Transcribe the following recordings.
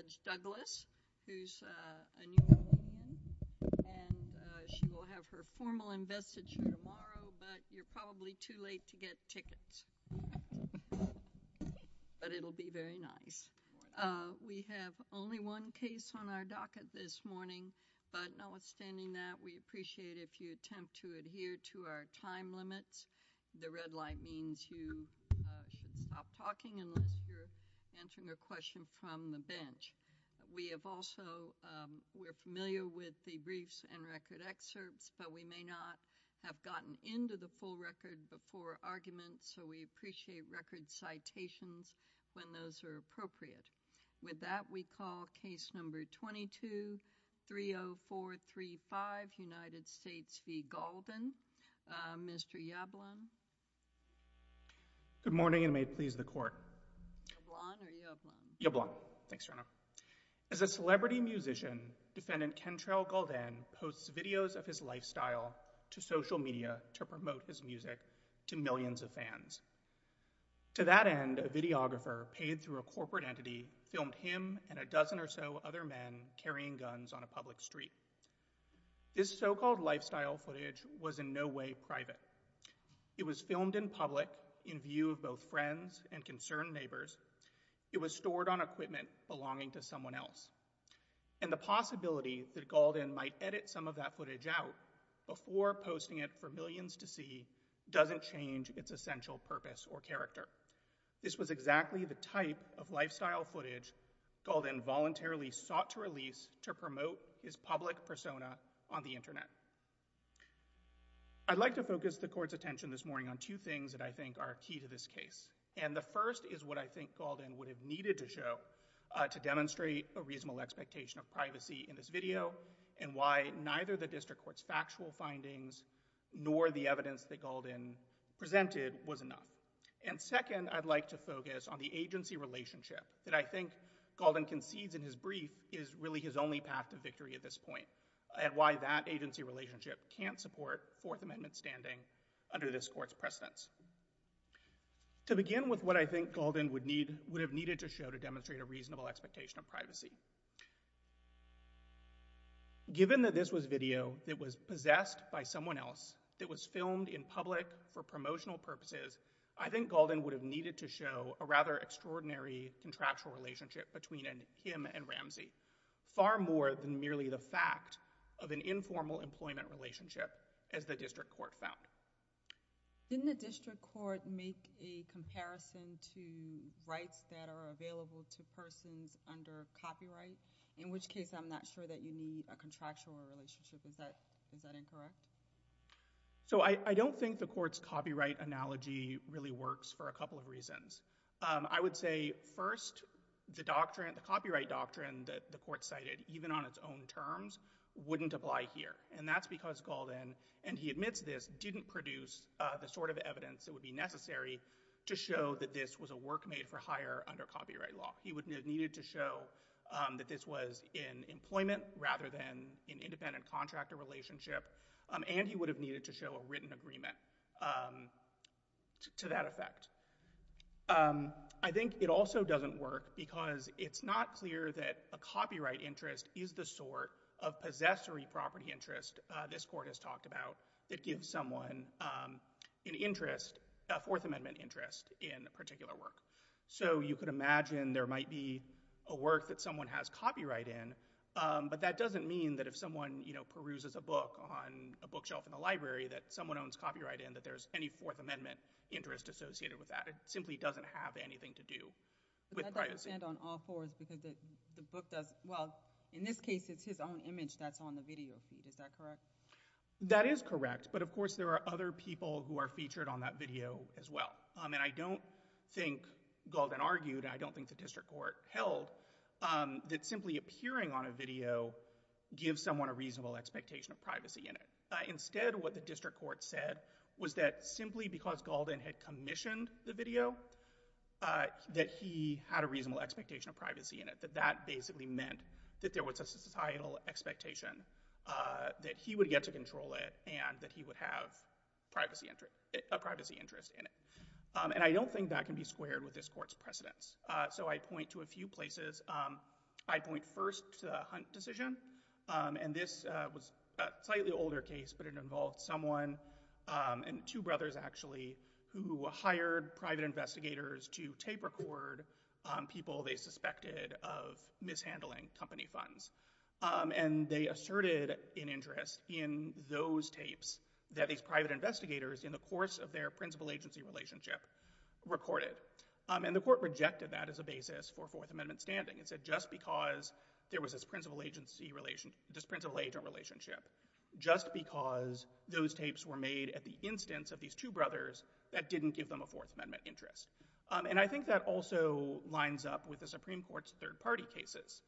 Judge Douglas, who's a New Orleanian, and she will have her formal investiture tomorrow, but you're probably too late to get tickets. But it'll be very nice. We have only one case on our docket this morning, but notwithstanding that, we appreciate if you attempt to adhere to our time limits. The red light means you should stop talking unless you're answering a question from the bench. We have also, we're familiar with the briefs and record excerpts, but we may not have gotten into the full record before argument, so we appreciate record citations when those are appropriate. With that, we call case number 22-30435, United States v. Yablon. As a celebrity musician, defendant Kentrell Gaulden posts videos of his lifestyle to social media to promote his music to millions of fans. To that end, a videographer paid through a corporate entity filmed him and a dozen or so other men carrying guns on a public street. This so-called lifestyle footage was in no way private. It was filmed in public in view of both friends and concerned neighbors. It was stored on equipment belonging to someone else. And the possibility that Gaulden might edit some of that footage out before posting it for millions to see doesn't change its essential purpose or character. This was exactly the type of lifestyle footage Gaulden voluntarily sought to release to promote his public persona on the internet. I'd like to focus the court's attention this morning on two things that I think are key to this case. And the first is what I think Gaulden would have needed to show to demonstrate a reasonable expectation of privacy in this video and why neither the district court's factual findings nor the evidence that Gaulden presented was enough. And second, I'd like to focus on the agency relationship that I think Gaulden concedes in his brief is really his only path to victory at this point and why that agency relationship can't support Fourth Amendment standing under this court's precedence. To begin with, what I think Gaulden would have needed to show to demonstrate a reasonable expectation of privacy. Given that this was video that was possessed by someone else, that was filmed in public for promotional purposes, I think Gaulden would have needed to show a rather extraordinary contractual relationship between him and Ramsey. Far more than merely the fact of an informal employment relationship as the district court found. Didn't the district court make a comparison to rights that are available to persons under copyright? In which case I'm not sure that you need a contractual relationship. Is that incorrect? So I don't think the court's copyright analogy really works for a couple of reasons. I would say first, the doctrine, the copyright doctrine that the court cited, even on its own terms, wouldn't apply here. And that's because Gaulden, and he admits this, didn't produce the sort of evidence that would be necessary to show that this was a work made for hire under copyright law. He would have needed to show that this was in employment rather than an independent contractor relationship. And he would have needed to show a written agreement to that effect. I think it also doesn't work because it's not clear that a copyright interest is the sort of possessory property interest this court has talked about that gives someone an interest, a Fourth Amendment interest, in a particular work. So you could imagine there might be a work that someone has copyright in, but that doesn't mean that if someone peruses a book on a bookshelf in the library that someone owns copyright in, that there's any Fourth Amendment interest associated with that. It simply doesn't have anything to do with privacy. But that doesn't stand on all fours because the book does—well, in this case, it's his own image that's on the video feed. Is that correct? That is correct, but of course there are other people who are featured on that video as well. And I don't think Gaulden argued, and I don't think the district court held, that simply appearing on a video gives someone a reasonable expectation of privacy in it. Instead, what the district court said was that simply because Gaulden had commissioned the video, that he had a reasonable expectation of privacy in it, that that basically meant that there was a societal expectation that he would get to control it and that he would have a privacy interest in it. And I don't think that can be squared with this court's precedence. So I point to a few places. I point first to the Hunt decision, and this was a slightly older case, but it involved someone—and two brothers, actually—who hired private investigators to tape record people they suspected of mishandling company funds. And they asserted an interest in those tapes that these private investigators, in the course of their principal agency relationship, recorded. And the court rejected that as a basis for Fourth Amendment standing. It said just because there was this principal agency relationship, just because those tapes were made at the instance of these two brothers, that didn't give them a Fourth Amendment interest. And I think that also lines up with the Supreme Court's third-party cases.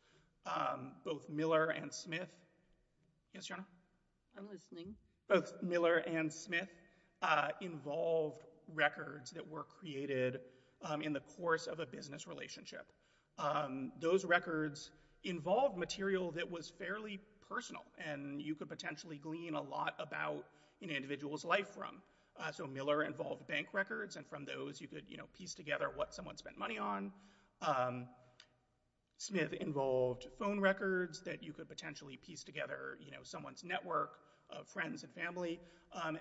Both Miller and Smith—yes, Your Honor? I'm listening. Both Miller and Smith involved records that were created in the course of a business relationship. Those records involved material that was fairly personal, and you could potentially glean a lot about an individual's life from. So Miller involved bank records, and from those you could piece together what someone spent money on. Smith involved phone records that you could potentially piece together someone's network of friends and family.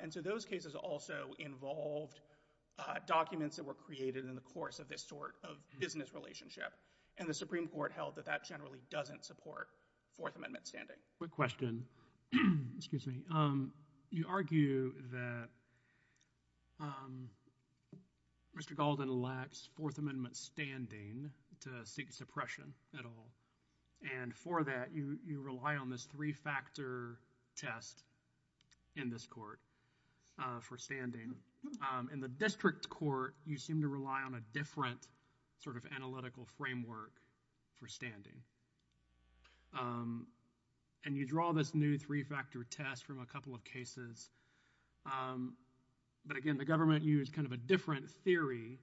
And so those cases also involved documents that were created in the course of this sort of business relationship. And the Supreme Court held that that generally doesn't support Fourth Amendment standing. Quick question. Excuse me. You argue that Mr. Galden lacks Fourth Amendment standing to seek suppression at all. And for that, you rely on this three-factor test in this political framework for standing. And you draw this new three-factor test from a couple of cases. But again, the government used kind of a different theory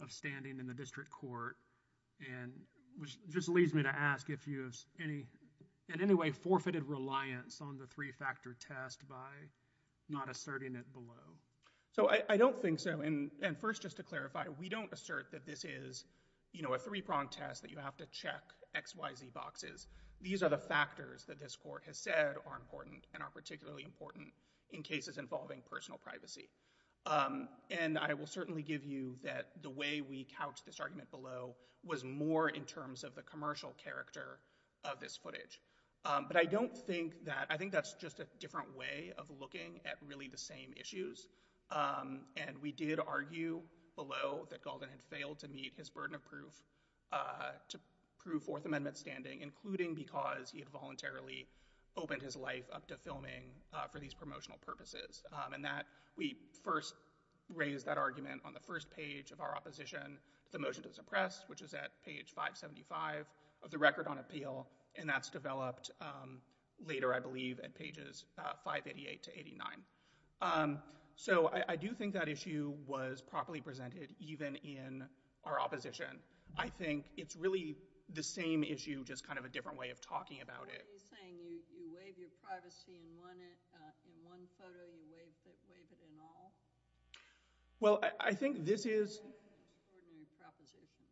of standing in the district court, which just leads me to ask if you have in any way forfeited reliance on the three-factor test by not asserting it below. So I don't think so. And first, just to clarify, we don't assert that this is a three-pronged test that you have to check X, Y, Z boxes. These are the factors that this court has said are important and are particularly important in cases involving personal privacy. And I will certainly give you that the way we couched this argument below was more in terms of the commercial character of this footage. But I don't think that—I think that's just a And we did argue below that Galden had failed to meet his burden of proof to prove Fourth Amendment standing, including because he had voluntarily opened his life up to filming for these promotional purposes. And that—we first raised that argument on the first page of our opposition to the motion to suppress, which is at page 575 of the Record on Appeal. And that's developed later, I believe, at pages 588 to 889. So I do think that issue was properly presented, even in our opposition. I think it's really the same issue, just kind of a different way of talking about it. What are you saying? You waive your privacy in one photo? You waive it in all? Well, I think this is— What an extraordinary proposition,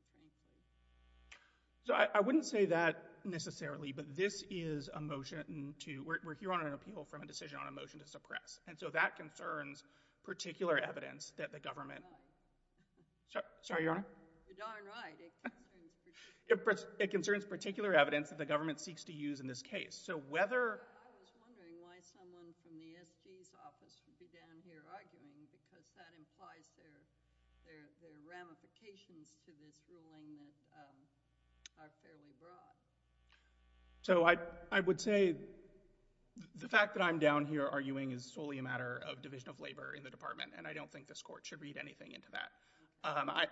frankly. So I wouldn't say that necessarily, but this is a motion to—we're here on an appeal from a decision on a motion to suppress. And so that concerns particular evidence that the government— You're darn right. Sorry, Your Honor? You're darn right. It concerns particular— I was wondering why someone from the SG's office would be down here arguing because that implies there are ramifications to this ruling that are fairly broad. So I would say the fact that I'm down here arguing is solely a matter of division of labor in the Department, and I don't think this Court should read anything into that.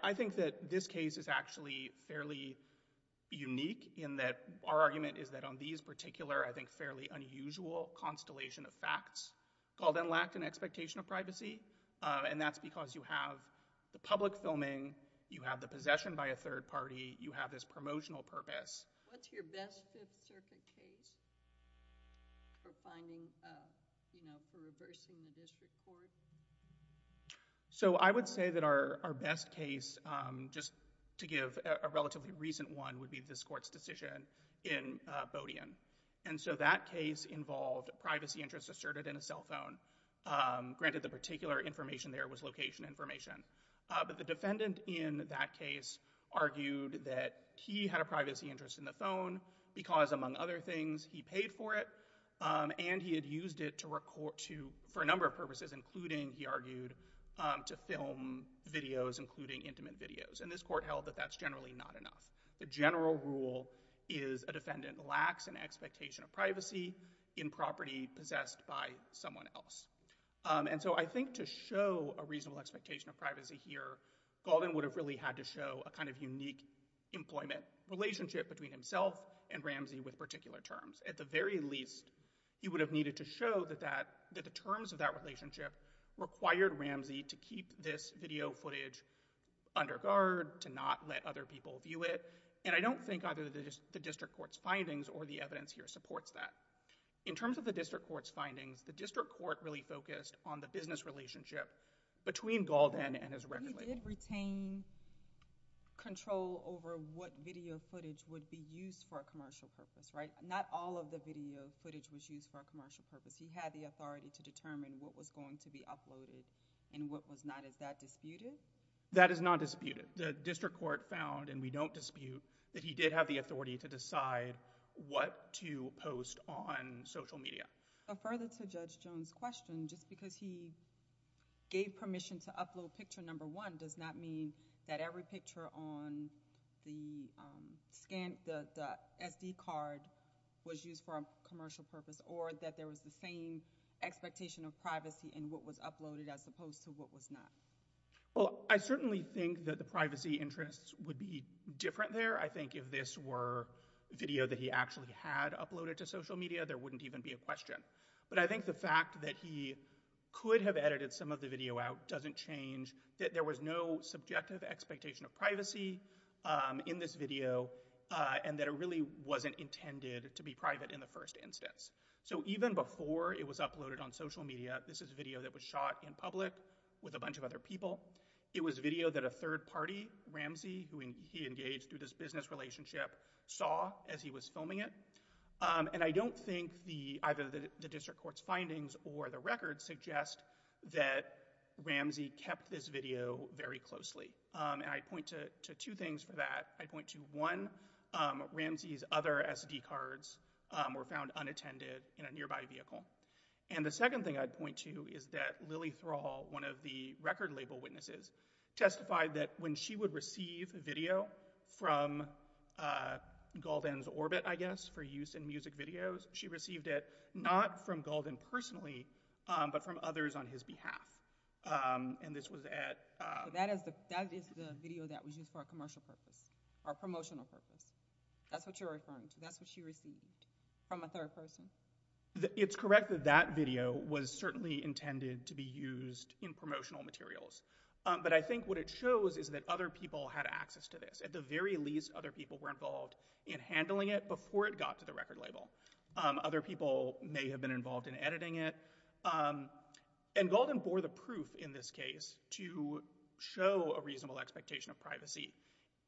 I think that this case is actually fairly unique in that our argument is that on these particular, I think fairly unusual, constellation of facts called and lacked an expectation of privacy, and that's because you have the public filming, you have the possession by a third party, you have this promotional purpose. What's your best Fifth Circuit case for finding, you know, for reversing the district court? So I would say that our best case, just to give a relatively recent one, would be this court's decision in Bodian. And so that case involved privacy interests asserted in a cell phone. Granted, the particular information there was location information. But the defendant in that case argued that he had a privacy interest in the phone because, among other things, he paid for it, and he had used it to—for a number of purposes, including, he argued, to film videos, including intimate videos. And this court held that that's generally not enough. The general rule is a defendant lacks an expectation of privacy in property possessed by someone else. And so I think to show a reasonable expectation of privacy here, Gauldin would have really had to show a kind of unique employment relationship between himself and Ramsey with particular terms. At the very least, he would have needed to show that the terms of that relationship required Ramsey to keep this video footage under guard, to not let other people view it. And I don't think either the district court's findings or the evidence here supports that. In terms of the district court's findings, the district court really focused on the business relationship between Gauldin and his record label. But he did retain control over what video footage would be used for a commercial purpose, right? Not all of the video footage was used for a commercial purpose. He had the authority to determine what was going to be uploaded and what was not. Is that disputed? That is not disputed. The district court found, and we don't dispute, that he did have the authority to decide what to post on social media. Further to Judge Jones' question, just because he gave permission to upload picture number one does not mean that every picture on the SD card was used for a commercial purpose or that there was the same expectation of privacy in what was uploaded as opposed to what was not. Well, I certainly think that the privacy interests would be different there. I think if this were video that he actually had uploaded to social media, there wouldn't even be a question. But I think the fact that he could have edited some of the video out doesn't change that there was no subjective expectation of privacy in this video and that it really wasn't intended to be private in the first instance. So even before it was uploaded on social media, this is video that was shot in public with a bunch of other people. It was video that a third party, Ramsey, who he engaged through this business relationship, saw as he was filming it. And I don't think either the district court's findings or the records suggest that Ramsey kept this video very closely. And I point to two things for that. I point to one, Ramsey's other SD cards were found unattended in a nearby vehicle. And the second thing I'd point to is that Lily Thrall, one of the record label witnesses, testified that when she would receive video from Gauldin's Orbit, I guess, for use in music videos, she received it not from Gauldin personally, but from others on his behalf. And this was at— That is the video that was used for a commercial purpose or promotional purpose. That's what you're referring to. That's what she received from a third person. It's correct that that video was certainly intended to be used in promotional materials. But I think what it shows is that other people had access to this. At the very least, other people were involved in handling it before it got to the record label. Other people may have been involved in editing it. And Gauldin bore the proof in this case to show a reasonable expectation of privacy.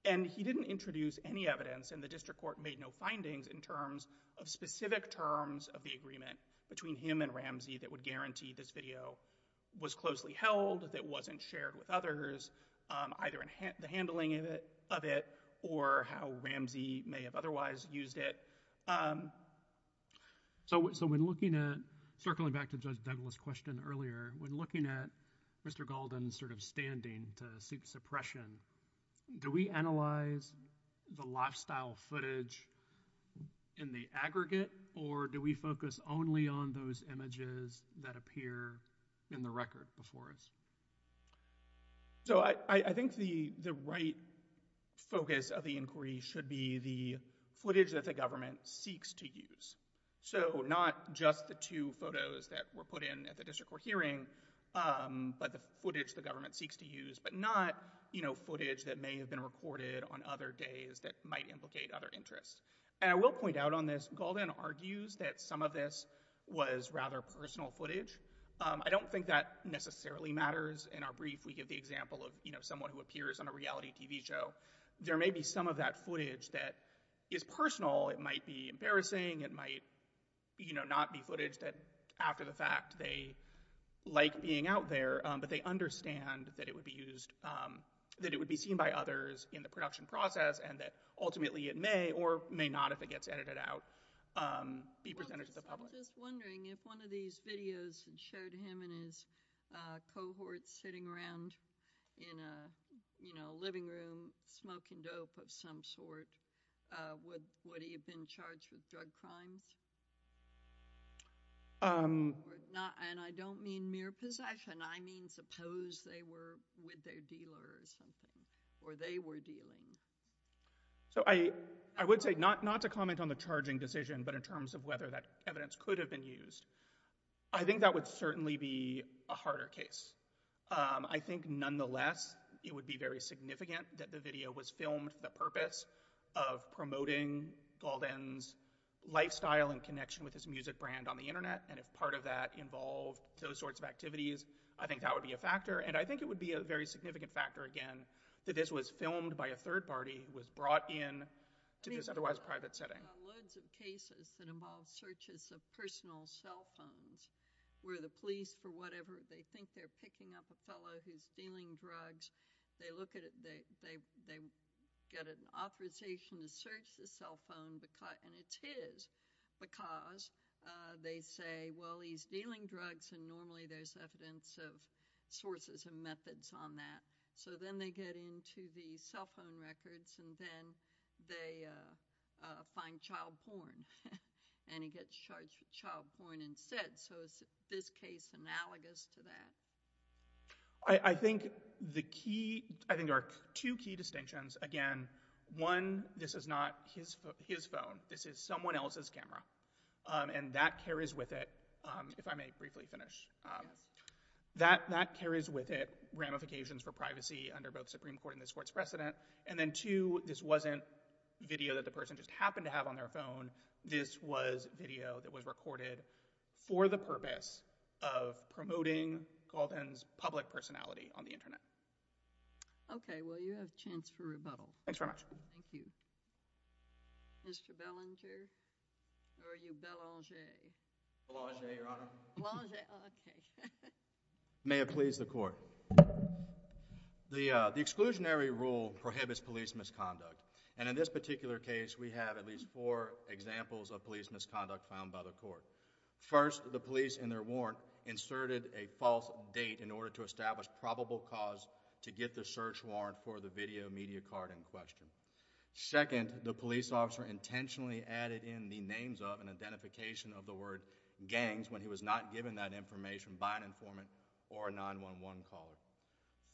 And he didn't introduce any evidence, and the district court made no findings in terms of specific terms of the agreement between him and Ramsey that would guarantee this video was closely held, that wasn't shared with others, either in the handling of it or how Ramsey may have otherwise used it. So when looking at—circling back to Judge Douglas' question earlier—when looking at Mr. Gauldin's sort of standing to seek suppression, do we analyze the lifestyle footage in the aggregate, or do we focus only on those images that appear in the record before us? So I think the right focus of the inquiry should be the footage that the government seeks to use. So not just the two photos that were put in at the district court hearing, but the footage the government seeks to use, but not, you know, footage that may have been recorded on other days that might implicate other interests. And I will point out on this, Gauldin argues that some of this was rather personal footage. I don't think that necessarily matters. In our brief, we give the example of, you know, someone who appears on a reality TV show. There may be some of that footage that is personal. It might be embarrassing. It might, you know, not be footage that after the fact they like being out there, but they understand that it would be used—that it would be seen by others in the production process, and that ultimately it may or may not, if it gets edited out, be presented to the public. I was just wondering if one of these videos showed him and his cohort sitting around in a, you know, living room smoking dope of some sort. Would he have been charged with drug crimes? And I don't mean mere possession. I mean suppose they were with their dealer or something, or they were dealing. So I would say not to comment on the charging decision, but in terms of whether that evidence could have been used, I think that would certainly be a harder case. I think nonetheless, it would be very significant that the video was filmed for the purpose of promoting Gauldin's lifestyle and connection with his music brand on the Internet, and if part of that involved those sorts of activities, I think that would be a factor. And I think it would be a very significant factor, again, that this was filmed by a third party who was brought in to this otherwise private setting. There are loads of cases that involve searches of personal cell phones where the police, for whatever, they think they're picking up a fellow who's dealing drugs. They look at it. They get an authorization to search the cell phone, and it's his because they say, well, he's dealing drugs, and normally there's evidence of sources and methods on that. So then they get into the cell phone records, and then they find child porn, and he gets charged with child porn instead. So is this case analogous to that? I think there are two key distinctions. Again, one, this is not his phone. This is someone else's camera, and that carries with it, if I may briefly finish, that carries with it ramifications for privacy under both Supreme Court and this Court's precedent. And then two, this wasn't video that the person just happened to have on their phone. This was video that was recorded for the purpose of promoting Galton's public personality on the internet. Okay. Well, you have a chance for rebuttal. Thanks very much. Thank you. Mr. Belanger? Or are you Belanger? Belanger, Your Honor. Belanger. Okay. May it please the Court. The exclusionary rule prohibits police misconduct. And in this particular case, we have at least four examples of police misconduct found by the Court. First, the police in their warrant inserted a false date in order to establish probable cause to get the search warrant for the video media card in question. Second, the police officer intentionally added in the names of and identification of the gangs when he was not given that information by an informant or a 911 caller.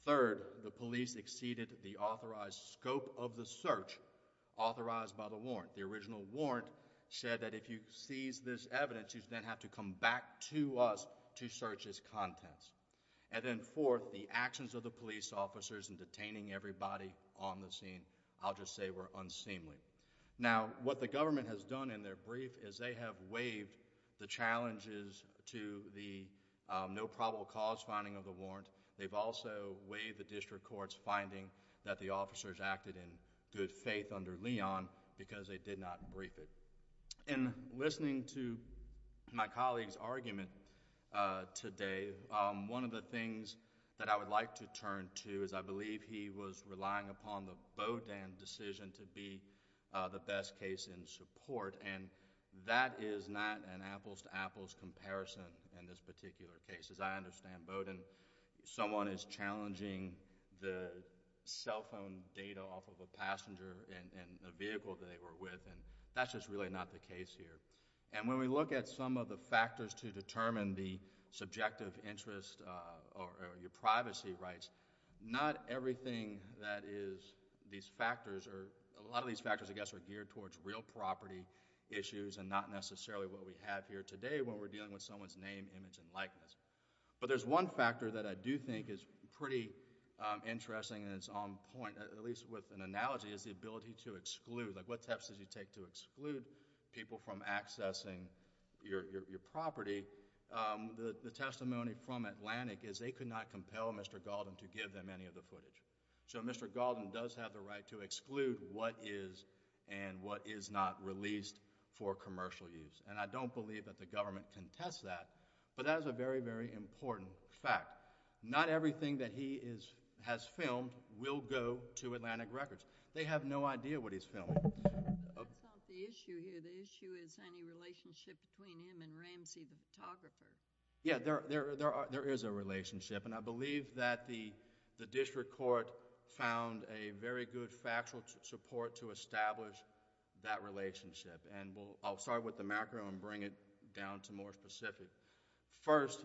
Third, the police exceeded the authorized scope of the search authorized by the warrant. The original warrant said that if you seize this evidence, you then have to come back to us to search its contents. And then fourth, the actions of the police officers in detaining everybody on the scene, I'll just say, were unseemly. Now, what the government has done in their brief is they have waived the challenges to the no probable cause finding of the warrant. They've also waived the district court's finding that the officers acted in good faith under Leon because they did not brief it. In listening to my colleague's argument today, one of the things that I would like to turn to is I believe he was relying upon the Bowdoin decision to be the best case in support, and that is not an apples-to-apples comparison in this particular case. As I understand, Bowdoin, someone is challenging the cell phone data off of a passenger in the vehicle that they were with, and that's just really not the case here. And when we look at some of the factors to determine the subjective interest or your privacy rights, not everything that is these factors, or a lot of these factors, I guess, are geared towards real property issues and not necessarily what we have here today when we're dealing with someone's name, image, and likeness. But there's one factor that I do think is pretty interesting, and it's on point, at least with an analogy, is the ability to exclude. Like what steps did you take to exclude people from accessing your property? The testimony from Atlantic is they could not compel Mr. Gauldin to give them any of the footage. So Mr. Gauldin does have the right to exclude what is and what is not released for commercial use. And I don't believe that the government can test that, but that is a very, very important fact. Not everything that he has filmed will go to Atlantic Records. They have no idea what he's filming. That's not the issue here. The issue is any relationship between him and Ramsey, the photographer. Yeah, there is a relationship, and I believe that the district court found a very good factual support to establish that relationship. I'll start with the macro and bring it down to more specific. First,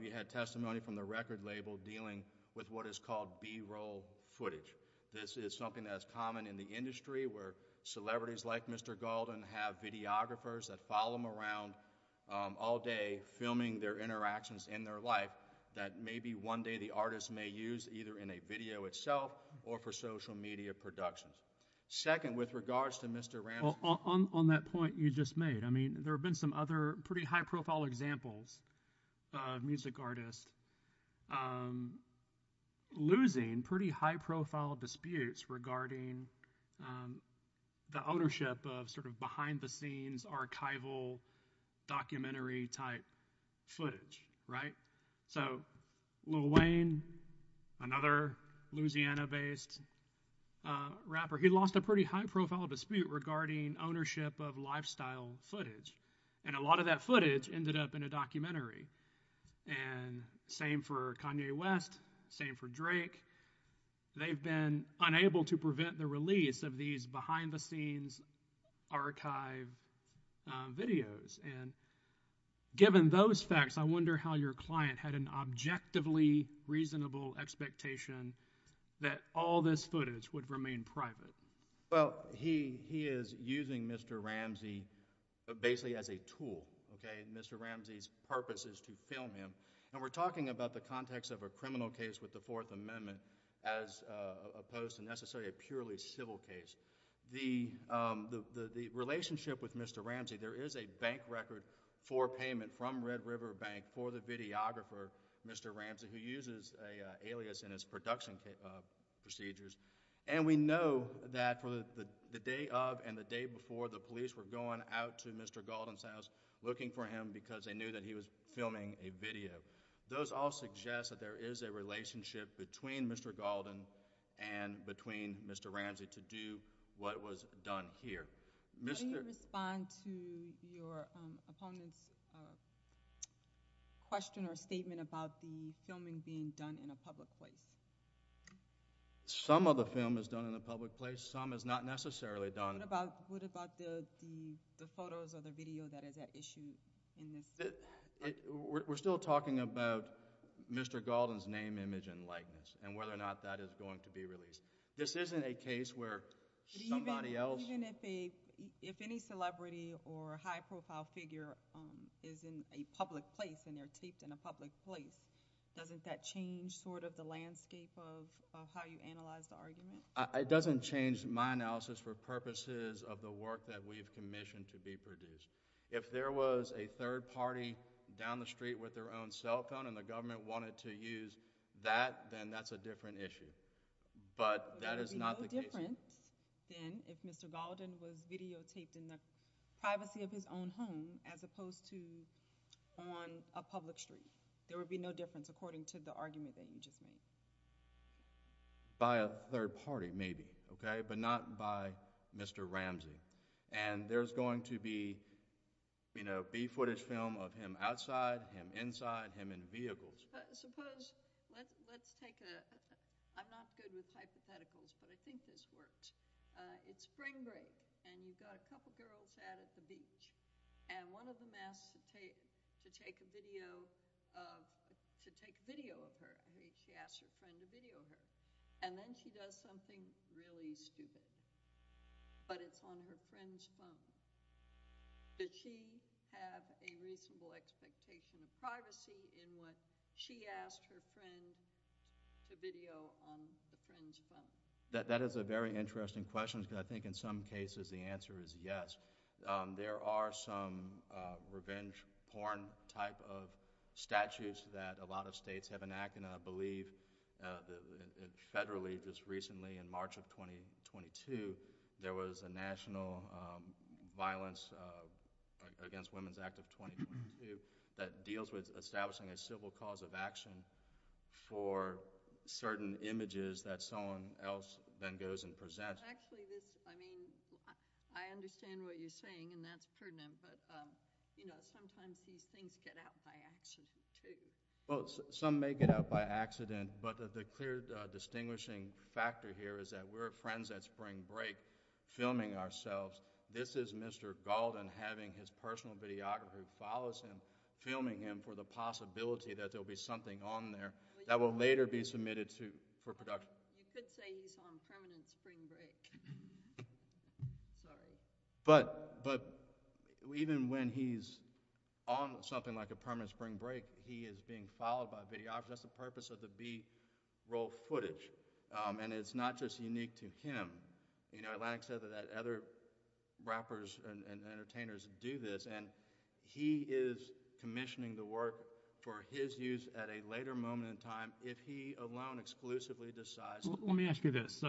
we had testimony from the record label dealing with what is called B-roll footage. This is something that is common in the industry where celebrities like Mr. Gauldin have videographers that follow him around all day filming their interactions in their life that maybe one day the artist may use either in a video itself or for social media productions. Second, with regards to Mr. Ramsey— On that point you just made, I mean, there have been some other pretty high-profile examples of music artists losing pretty high-profile disputes regarding the ownership of sort of behind-the-scenes archival documentary-type footage, right? So Lil Wayne, another Louisiana-based rapper, he lost a pretty high-profile dispute regarding ownership of lifestyle footage, and a lot of that footage ended up in a documentary. And same for Kanye West, same for Drake. They've been unable to prevent the release of these behind-the-scenes archive videos. And given those facts, I wonder how your client had an objectively reasonable expectation that all this footage would remain private. Well, he is using Mr. Ramsey basically as a tool, okay? Mr. Ramsey's purpose is to film him. And we're talking about the context of a criminal case with the Fourth Amendment as opposed to necessarily a purely civil case. The relationship with Mr. Ramsey, there is a bank record for payment from Red River Bank for the videographer, Mr. Ramsey, who uses an alias in his production procedures. And we know that for the day of and the day before, the police were going out to Mr. Gaulden's house looking for him because they knew that he was filming a video. Those all suggest that there is a relationship between Mr. Gaulden and between Mr. Ramsey to do what was done here. How do you respond to your opponent's question or statement about the filming being done in a public place? Some of the film is done in a public place. Some is not necessarily done. What about the photos or the video that is at issue in this? We're still talking about Mr. Gaulden's name, image, and likeness and whether or not that is going to be released. This isn't a case where somebody else... Even if any celebrity or high-profile figure is in a public place and they're taped in a public place, doesn't that change the landscape of how you analyze the argument? It doesn't change my analysis for purposes of the work that we've commissioned to be produced. If there was a third party down the street with their own cell phone and the government wanted to use that, then that's a different issue. But that is not the case. There would be no difference then if Mr. Gaulden was videotaped in the privacy of his own home as opposed to on a public street. There would be no difference according to the argument that you just made. By a third party, maybe, but not by Mr. Ramsey. There's going to be footage film of him outside, him inside, him in vehicles. I'm not good with hypotheticals, but I think this works. It's spring break and you've got a couple of girls out at the beach. One of them asks to take a video of her. She asks her friend to video her. Then she does something really stupid, but it's on her friend's phone. Did she have a reasonable expectation of privacy in what she asked her friend to video on the friend's phone? That is a very interesting question because I think in some cases the answer is yes. There are some revenge porn type of statutes that a lot of states have enacted. I believe federally just recently in March of 2022 there was a national violence against women's act of 2022 that deals with establishing a civil cause of action for certain images that someone else then goes and presents. I understand what you're saying and that's pertinent, but sometimes these things get out by accident, too. Some may get out by accident, but the clear distinguishing factor here is that we're friends at spring break filming ourselves. This is Mr. Gaulden having his personal videographer who follows him filming him for the possibility that there will be something on there that will later be submitted for production. You could say he's on permanent spring break, sorry. Even when he's on something like a permanent spring break, he is being followed by a videographer. That's the purpose of the B-roll footage. It's not just unique to him. Atlantic said that other rappers and entertainers do this. He is commissioning the work for his use at a later moment in time if he alone exclusively decides. Let me ask you this.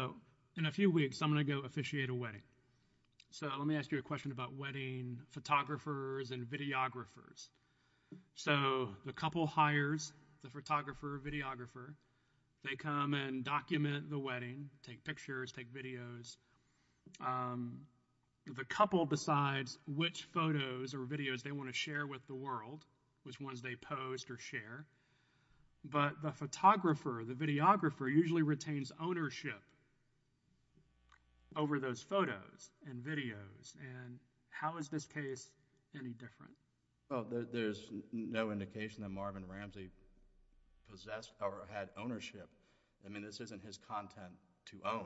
In a few weeks I'm going to go officiate a wedding. Let me ask you a question about wedding photographers and videographers. The couple hires the photographer or videographer. They come and document the wedding, take pictures, take videos. The couple decides which photos or videos they want to share with the world, which ones they post or share. But the photographer, the videographer usually retains ownership over those photos and videos. How is this case any different? There's no indication that Marvin Ramsey possessed or had ownership. This isn't his content to own.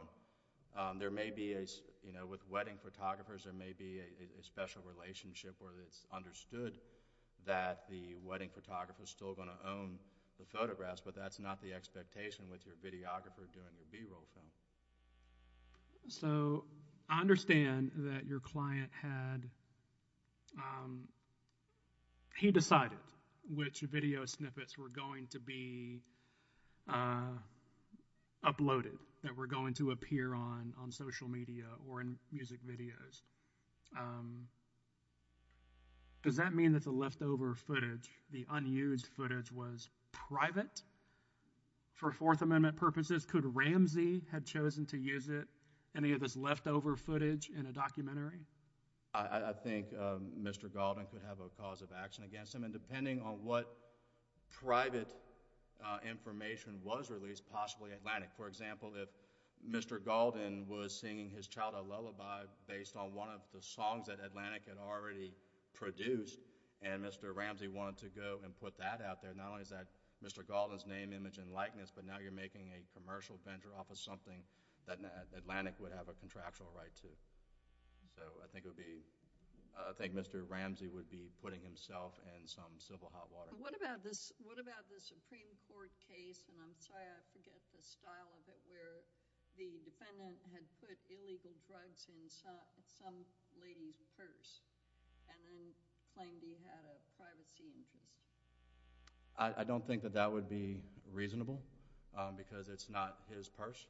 With wedding photographers, there may be a special relationship where it's understood that the wedding photographer is still going to own the photographs. But that's not the expectation with your videographer doing your B-roll film. So, I understand that your client had—he decided which video snippets were going to be uploaded, that were going to appear on social media or in music videos. Does that mean that the leftover footage, the unused footage, was private for Fourth Amendment purposes? Could Ramsey have chosen to use any of this leftover footage in a documentary? I think Mr. Gauldin could have a cause of action against him. And depending on what private information was released, possibly Atlantic. For example, if Mr. Gauldin was singing his childhood lullaby based on one of the songs that Atlantic had already produced, and Mr. Ramsey wanted to go and put that out there, not only is that Mr. Gauldin's name, image, and likeness, but now you're making a commercial venture off of something that Atlantic would have a contractual right to. So, I think Mr. Ramsey would be putting himself in some civil hot water. What about the Supreme Court case—and I'm sorry, I forget the style of it— where the defendant had put illegal drugs in some lady's purse and then claimed he had a privacy interest? I don't think that that would be reasonable, because it's not his purse.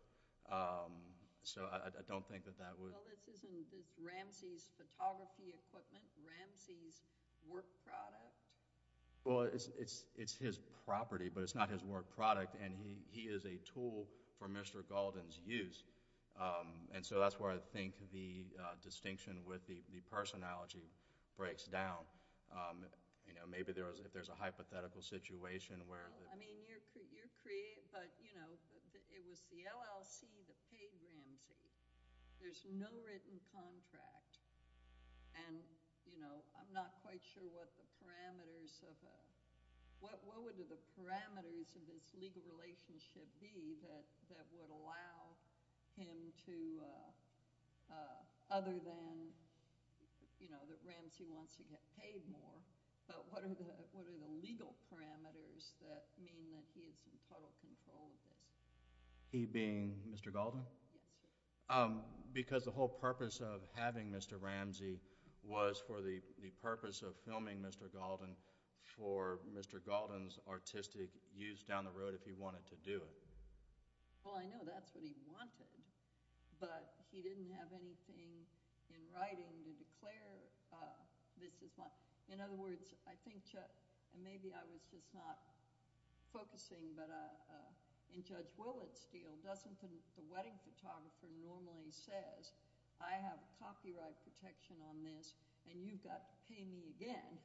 So, I don't think that that would— Well, this isn't Ramsey's photography equipment, Ramsey's work product? Well, it's his property, but it's not his work product, and he is a tool for Mr. Gauldin's use. And so, that's where I think the distinction with the purse analogy breaks down. Maybe if there's a hypothetical situation where— I mean, you're creating—but it was the LLC that paid Ramsey. There's no written contract, and I'm not quite sure what the parameters of a— what would the parameters of this legal relationship be that would allow him to— other than that Ramsey wants to get paid more, but what are the legal parameters that mean that he is in total control of this? He being Mr. Gauldin? Yes, sir. Because the whole purpose of having Mr. Ramsey was for the purpose of filming Mr. Gauldin for Mr. Gauldin's artistic use down the road if he wanted to do it. Well, I know that's what he wanted, but he didn't have anything in writing to declare this is— in other words, I think, Chuck, and maybe I was just not focusing, but in Judge Willett's deal, doesn't the wedding photographer normally say, I have copyright protection on this, and you've got to pay me again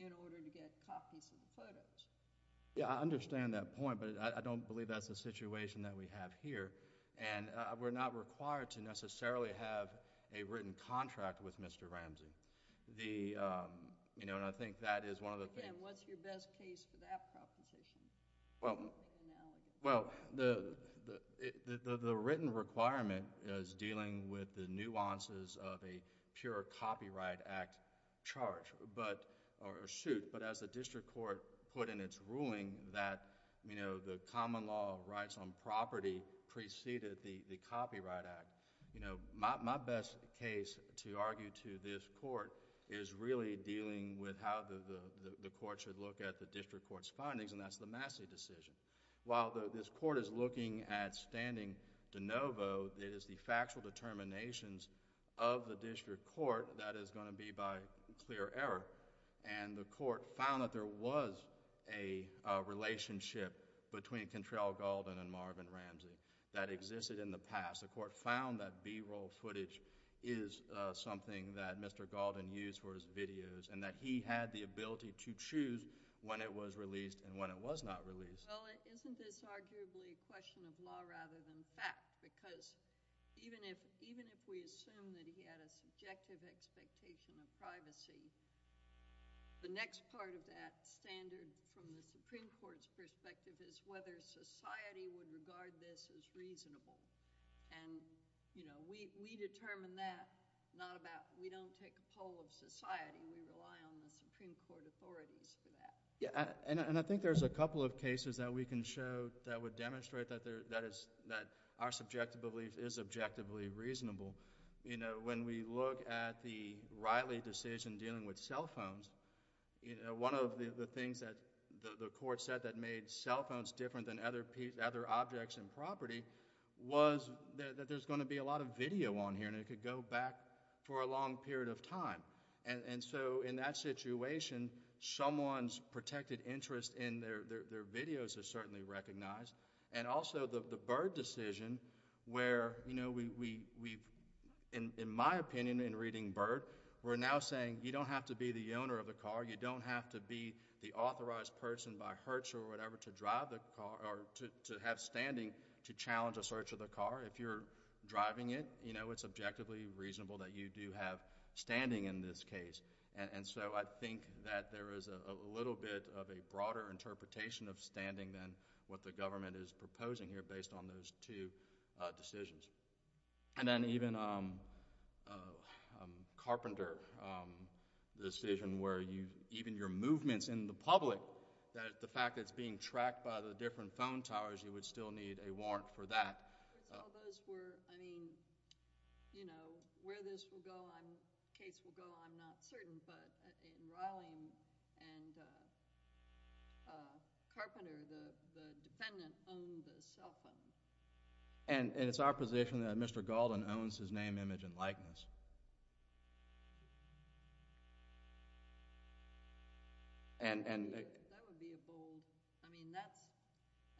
in order to get copies of the photos? Yeah, I understand that point, but I don't believe that's the situation that we have here, and we're not required to necessarily have a written contract with Mr. Ramsey. I think that is one of the— Again, what's your best case for that proposition? Well, the written requirement is dealing with the nuances of a pure Copyright Act charge or suit, but as the district court put in its ruling that the common law rights on property preceded the Copyright Act, my best case to argue to this court is really dealing with how the court should look at the district court's findings, and that's the Massey decision. While this court is looking at standing de novo, it is the factual determinations of the district court that is going to be by clear error, and the court found that there was a relationship between Cantrell Gauldin and Marvin Ramsey that existed in the past. The court found that B-roll footage is something that Mr. Gauldin used for his videos and that he had the ability to choose when it was released and when it was not released. Well, isn't this arguably a question of law rather than fact? Because even if we assume that he had a subjective expectation of privacy, the next part of that standard from the Supreme Court's perspective is whether society would regard this as reasonable, and we determine that. We don't take a poll of society. I think there's a couple of cases that we can show that would demonstrate that our subjective belief is objectively reasonable. When we look at the Riley decision dealing with cell phones, one of the things that the court said that made cell phones different than other objects and property was that there's going to be a lot of video on here and it could go back for a long period of time. In that situation, someone's protected interest in their videos is certainly recognized, and also the Byrd decision where, in my opinion in reading Byrd, we're now saying you don't have to be the owner of the car, you don't have to be the authorized person by Hertz or whatever to drive the car or to have standing to challenge a search of the car. If you're driving it, it's objectively reasonable that you do have standing in this case. I think that there is a little bit of a broader interpretation of standing than what the government is proposing here based on those two decisions. Then even Carpenter decision where even your movements in the public, the fact that it's being tracked by the different phone towers, you would still need a warrant for that. I mean, where this case will go, I'm not certain, but in Riling and Carpenter, the defendant owned the cell phone. And it's our position that Mr. Galden owns his name, image, and likeness.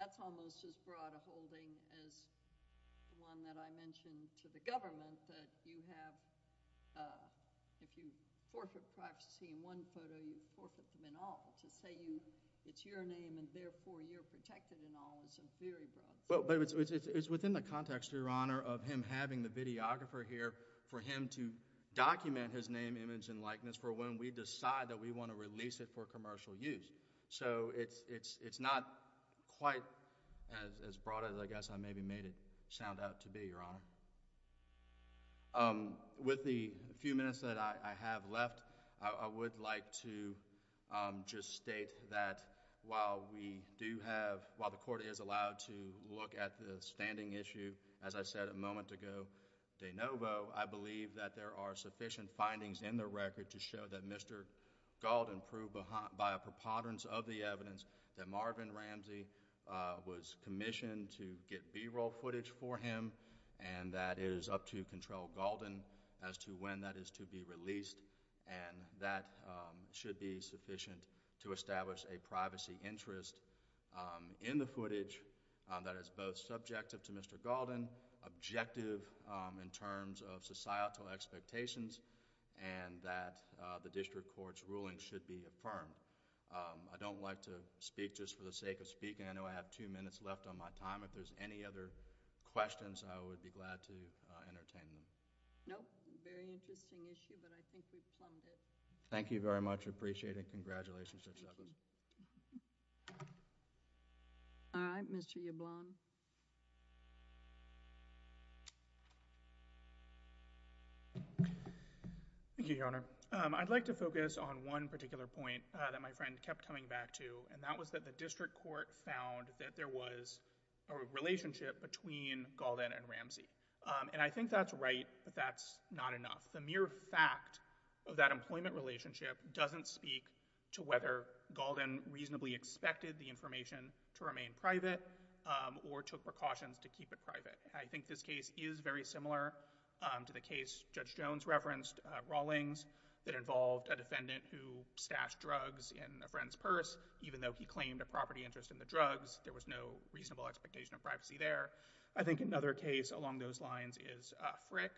That's almost as broad a holding as the one that I mentioned to the government, that if you forfeit privacy in one photo, you forfeit them in all. To say it's your name and therefore you're protected in all is a very broad… It's within the context, Your Honor, of him having the videographer here for him to document his name, image, and likeness for when we decide that we want to release it for commercial use. It's not quite as broad as I guess I maybe made it sound out to be, Your Honor. With the few minutes that I have left, I would like to just state that while the court is allowed to look at the standing issue, as I said a moment ago, de novo, I believe that there are sufficient findings in the record to show that Mr. Galden proved by a preponderance of the evidence that Marvin Ramsey was commissioned to get B-roll footage for him and that it is up to Control Galden as to when that is to be released. And that should be sufficient to establish a privacy interest in the footage that is both subjective to Mr. Galden, objective in terms of societal expectations, and that the district court's ruling should be affirmed. I don't like to speak just for the sake of speaking. I know I have two minutes left on my time. If there's any other questions, I would be glad to entertain them. Nope. Very interesting issue, but I think we've plumbed it. Thank you very much. I appreciate it. Congratulations to each other. All right. Mr. Yablon. Thank you, Your Honor. I'd like to focus on one particular point that my friend kept coming back to, and that was that the district court found that there was a relationship between Galden and Ramsey. And I think that's right, but that's not enough. The mere fact of that employment relationship doesn't speak to whether Galden reasonably expected the information to remain private or took precautions to keep it private. I think this case is very similar to the case Judge Jones referenced, Rawlings, that involved a defendant who stashed drugs in a friend's purse, even though he claimed a property interest in the drugs. There was no reasonable expectation of privacy there. I think another case along those lines is Frick,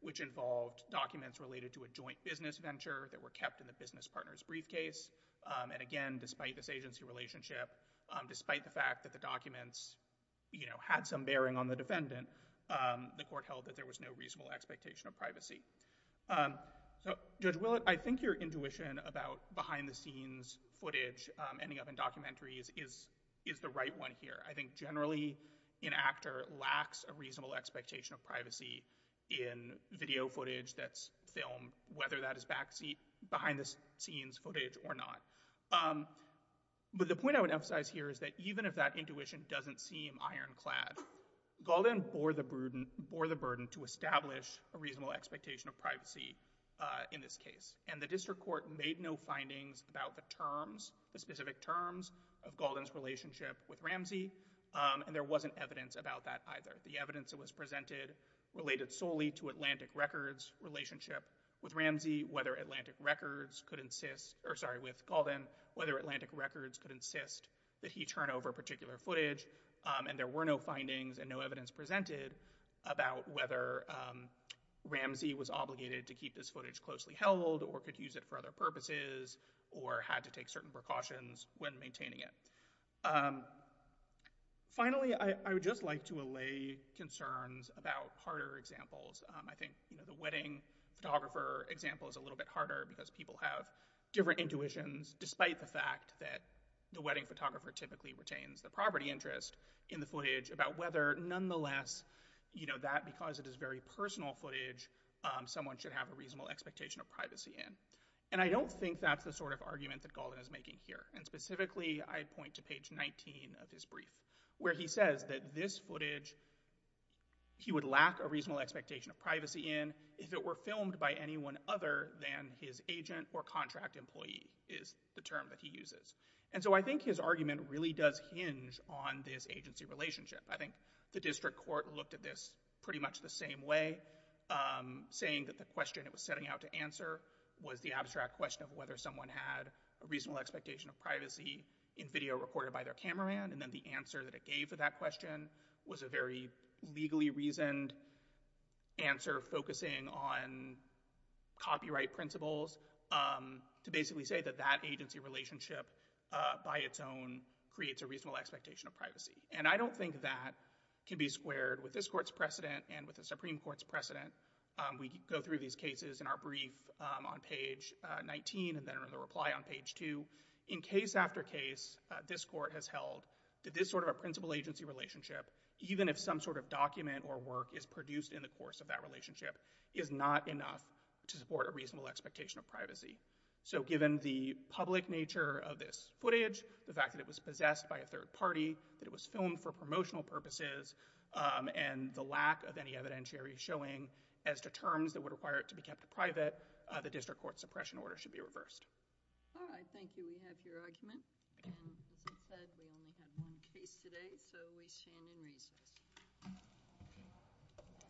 which involved documents related to a joint business venture that were kept in the business partner's briefcase. And again, despite this agency relationship, despite the fact that the documents, you know, had some bearing on the defendant, the court held that there was no reasonable expectation of privacy. So, Judge Willett, I think your intuition about behind-the-scenes footage, ending up in documentaries, is the right one here. I think generally an actor lacks a reasonable expectation of privacy in video footage that's filmed, whether that is behind-the-scenes footage or not. But the point I would emphasize here is that even if that intuition doesn't seem ironclad, Galden bore the burden to establish a reasonable expectation of privacy in this case. And the district court made no findings about the terms, the specific terms of Galden's relationship with Ramsey, and there wasn't evidence about that either. The evidence that was presented related solely to Atlantic Records' relationship with Ramsey, whether Atlantic Records could insist, or sorry, with Galden, whether Atlantic Records could insist that he turn over particular footage, and there were no findings and no evidence presented about whether Ramsey was obligated to keep this footage closely held or could use it for other purposes or had to take certain precautions when maintaining it. Finally, I would just like to allay concerns about harder examples. I think the wedding photographer example is a little bit harder because people have different intuitions, despite the fact that the wedding photographer typically retains the property interest in the footage, about whether nonetheless that, because it is very personal footage, someone should have a reasonable expectation of privacy in. And I don't think that's the sort of argument that Galden is making here, and specifically I point to page 19 of his brief, where he says that this footage, he would lack a reasonable expectation of privacy in if it were filmed by anyone other than his agent or contract employee is the term that he uses. And so I think his argument really does hinge on this agency relationship. I think the district court looked at this pretty much the same way. Saying that the question it was setting out to answer was the abstract question of whether someone had a reasonable expectation of privacy in video recorded by their cameraman, and then the answer that it gave for that question was a very legally reasoned answer focusing on copyright principles to basically say that that agency relationship by its own creates a reasonable expectation of privacy. And I don't think that can be squared with this court's precedent and with the Supreme Court's precedent. We go through these cases in our brief on page 19 and then in the reply on page 2. In case after case, this court has held that this sort of a principal agency relationship, even if some sort of document or work is produced in the course of that relationship, is not enough to support a reasonable expectation of privacy. So given the public nature of this footage, the fact that it was possessed by a third party, that it was filmed for promotional purposes, and the lack of any evidentiary showing as to terms that would require it to be kept private, the district court suppression order should be reversed. All right. Thank you. We have your argument. And as I said, we only have one case today, so we stand in recess.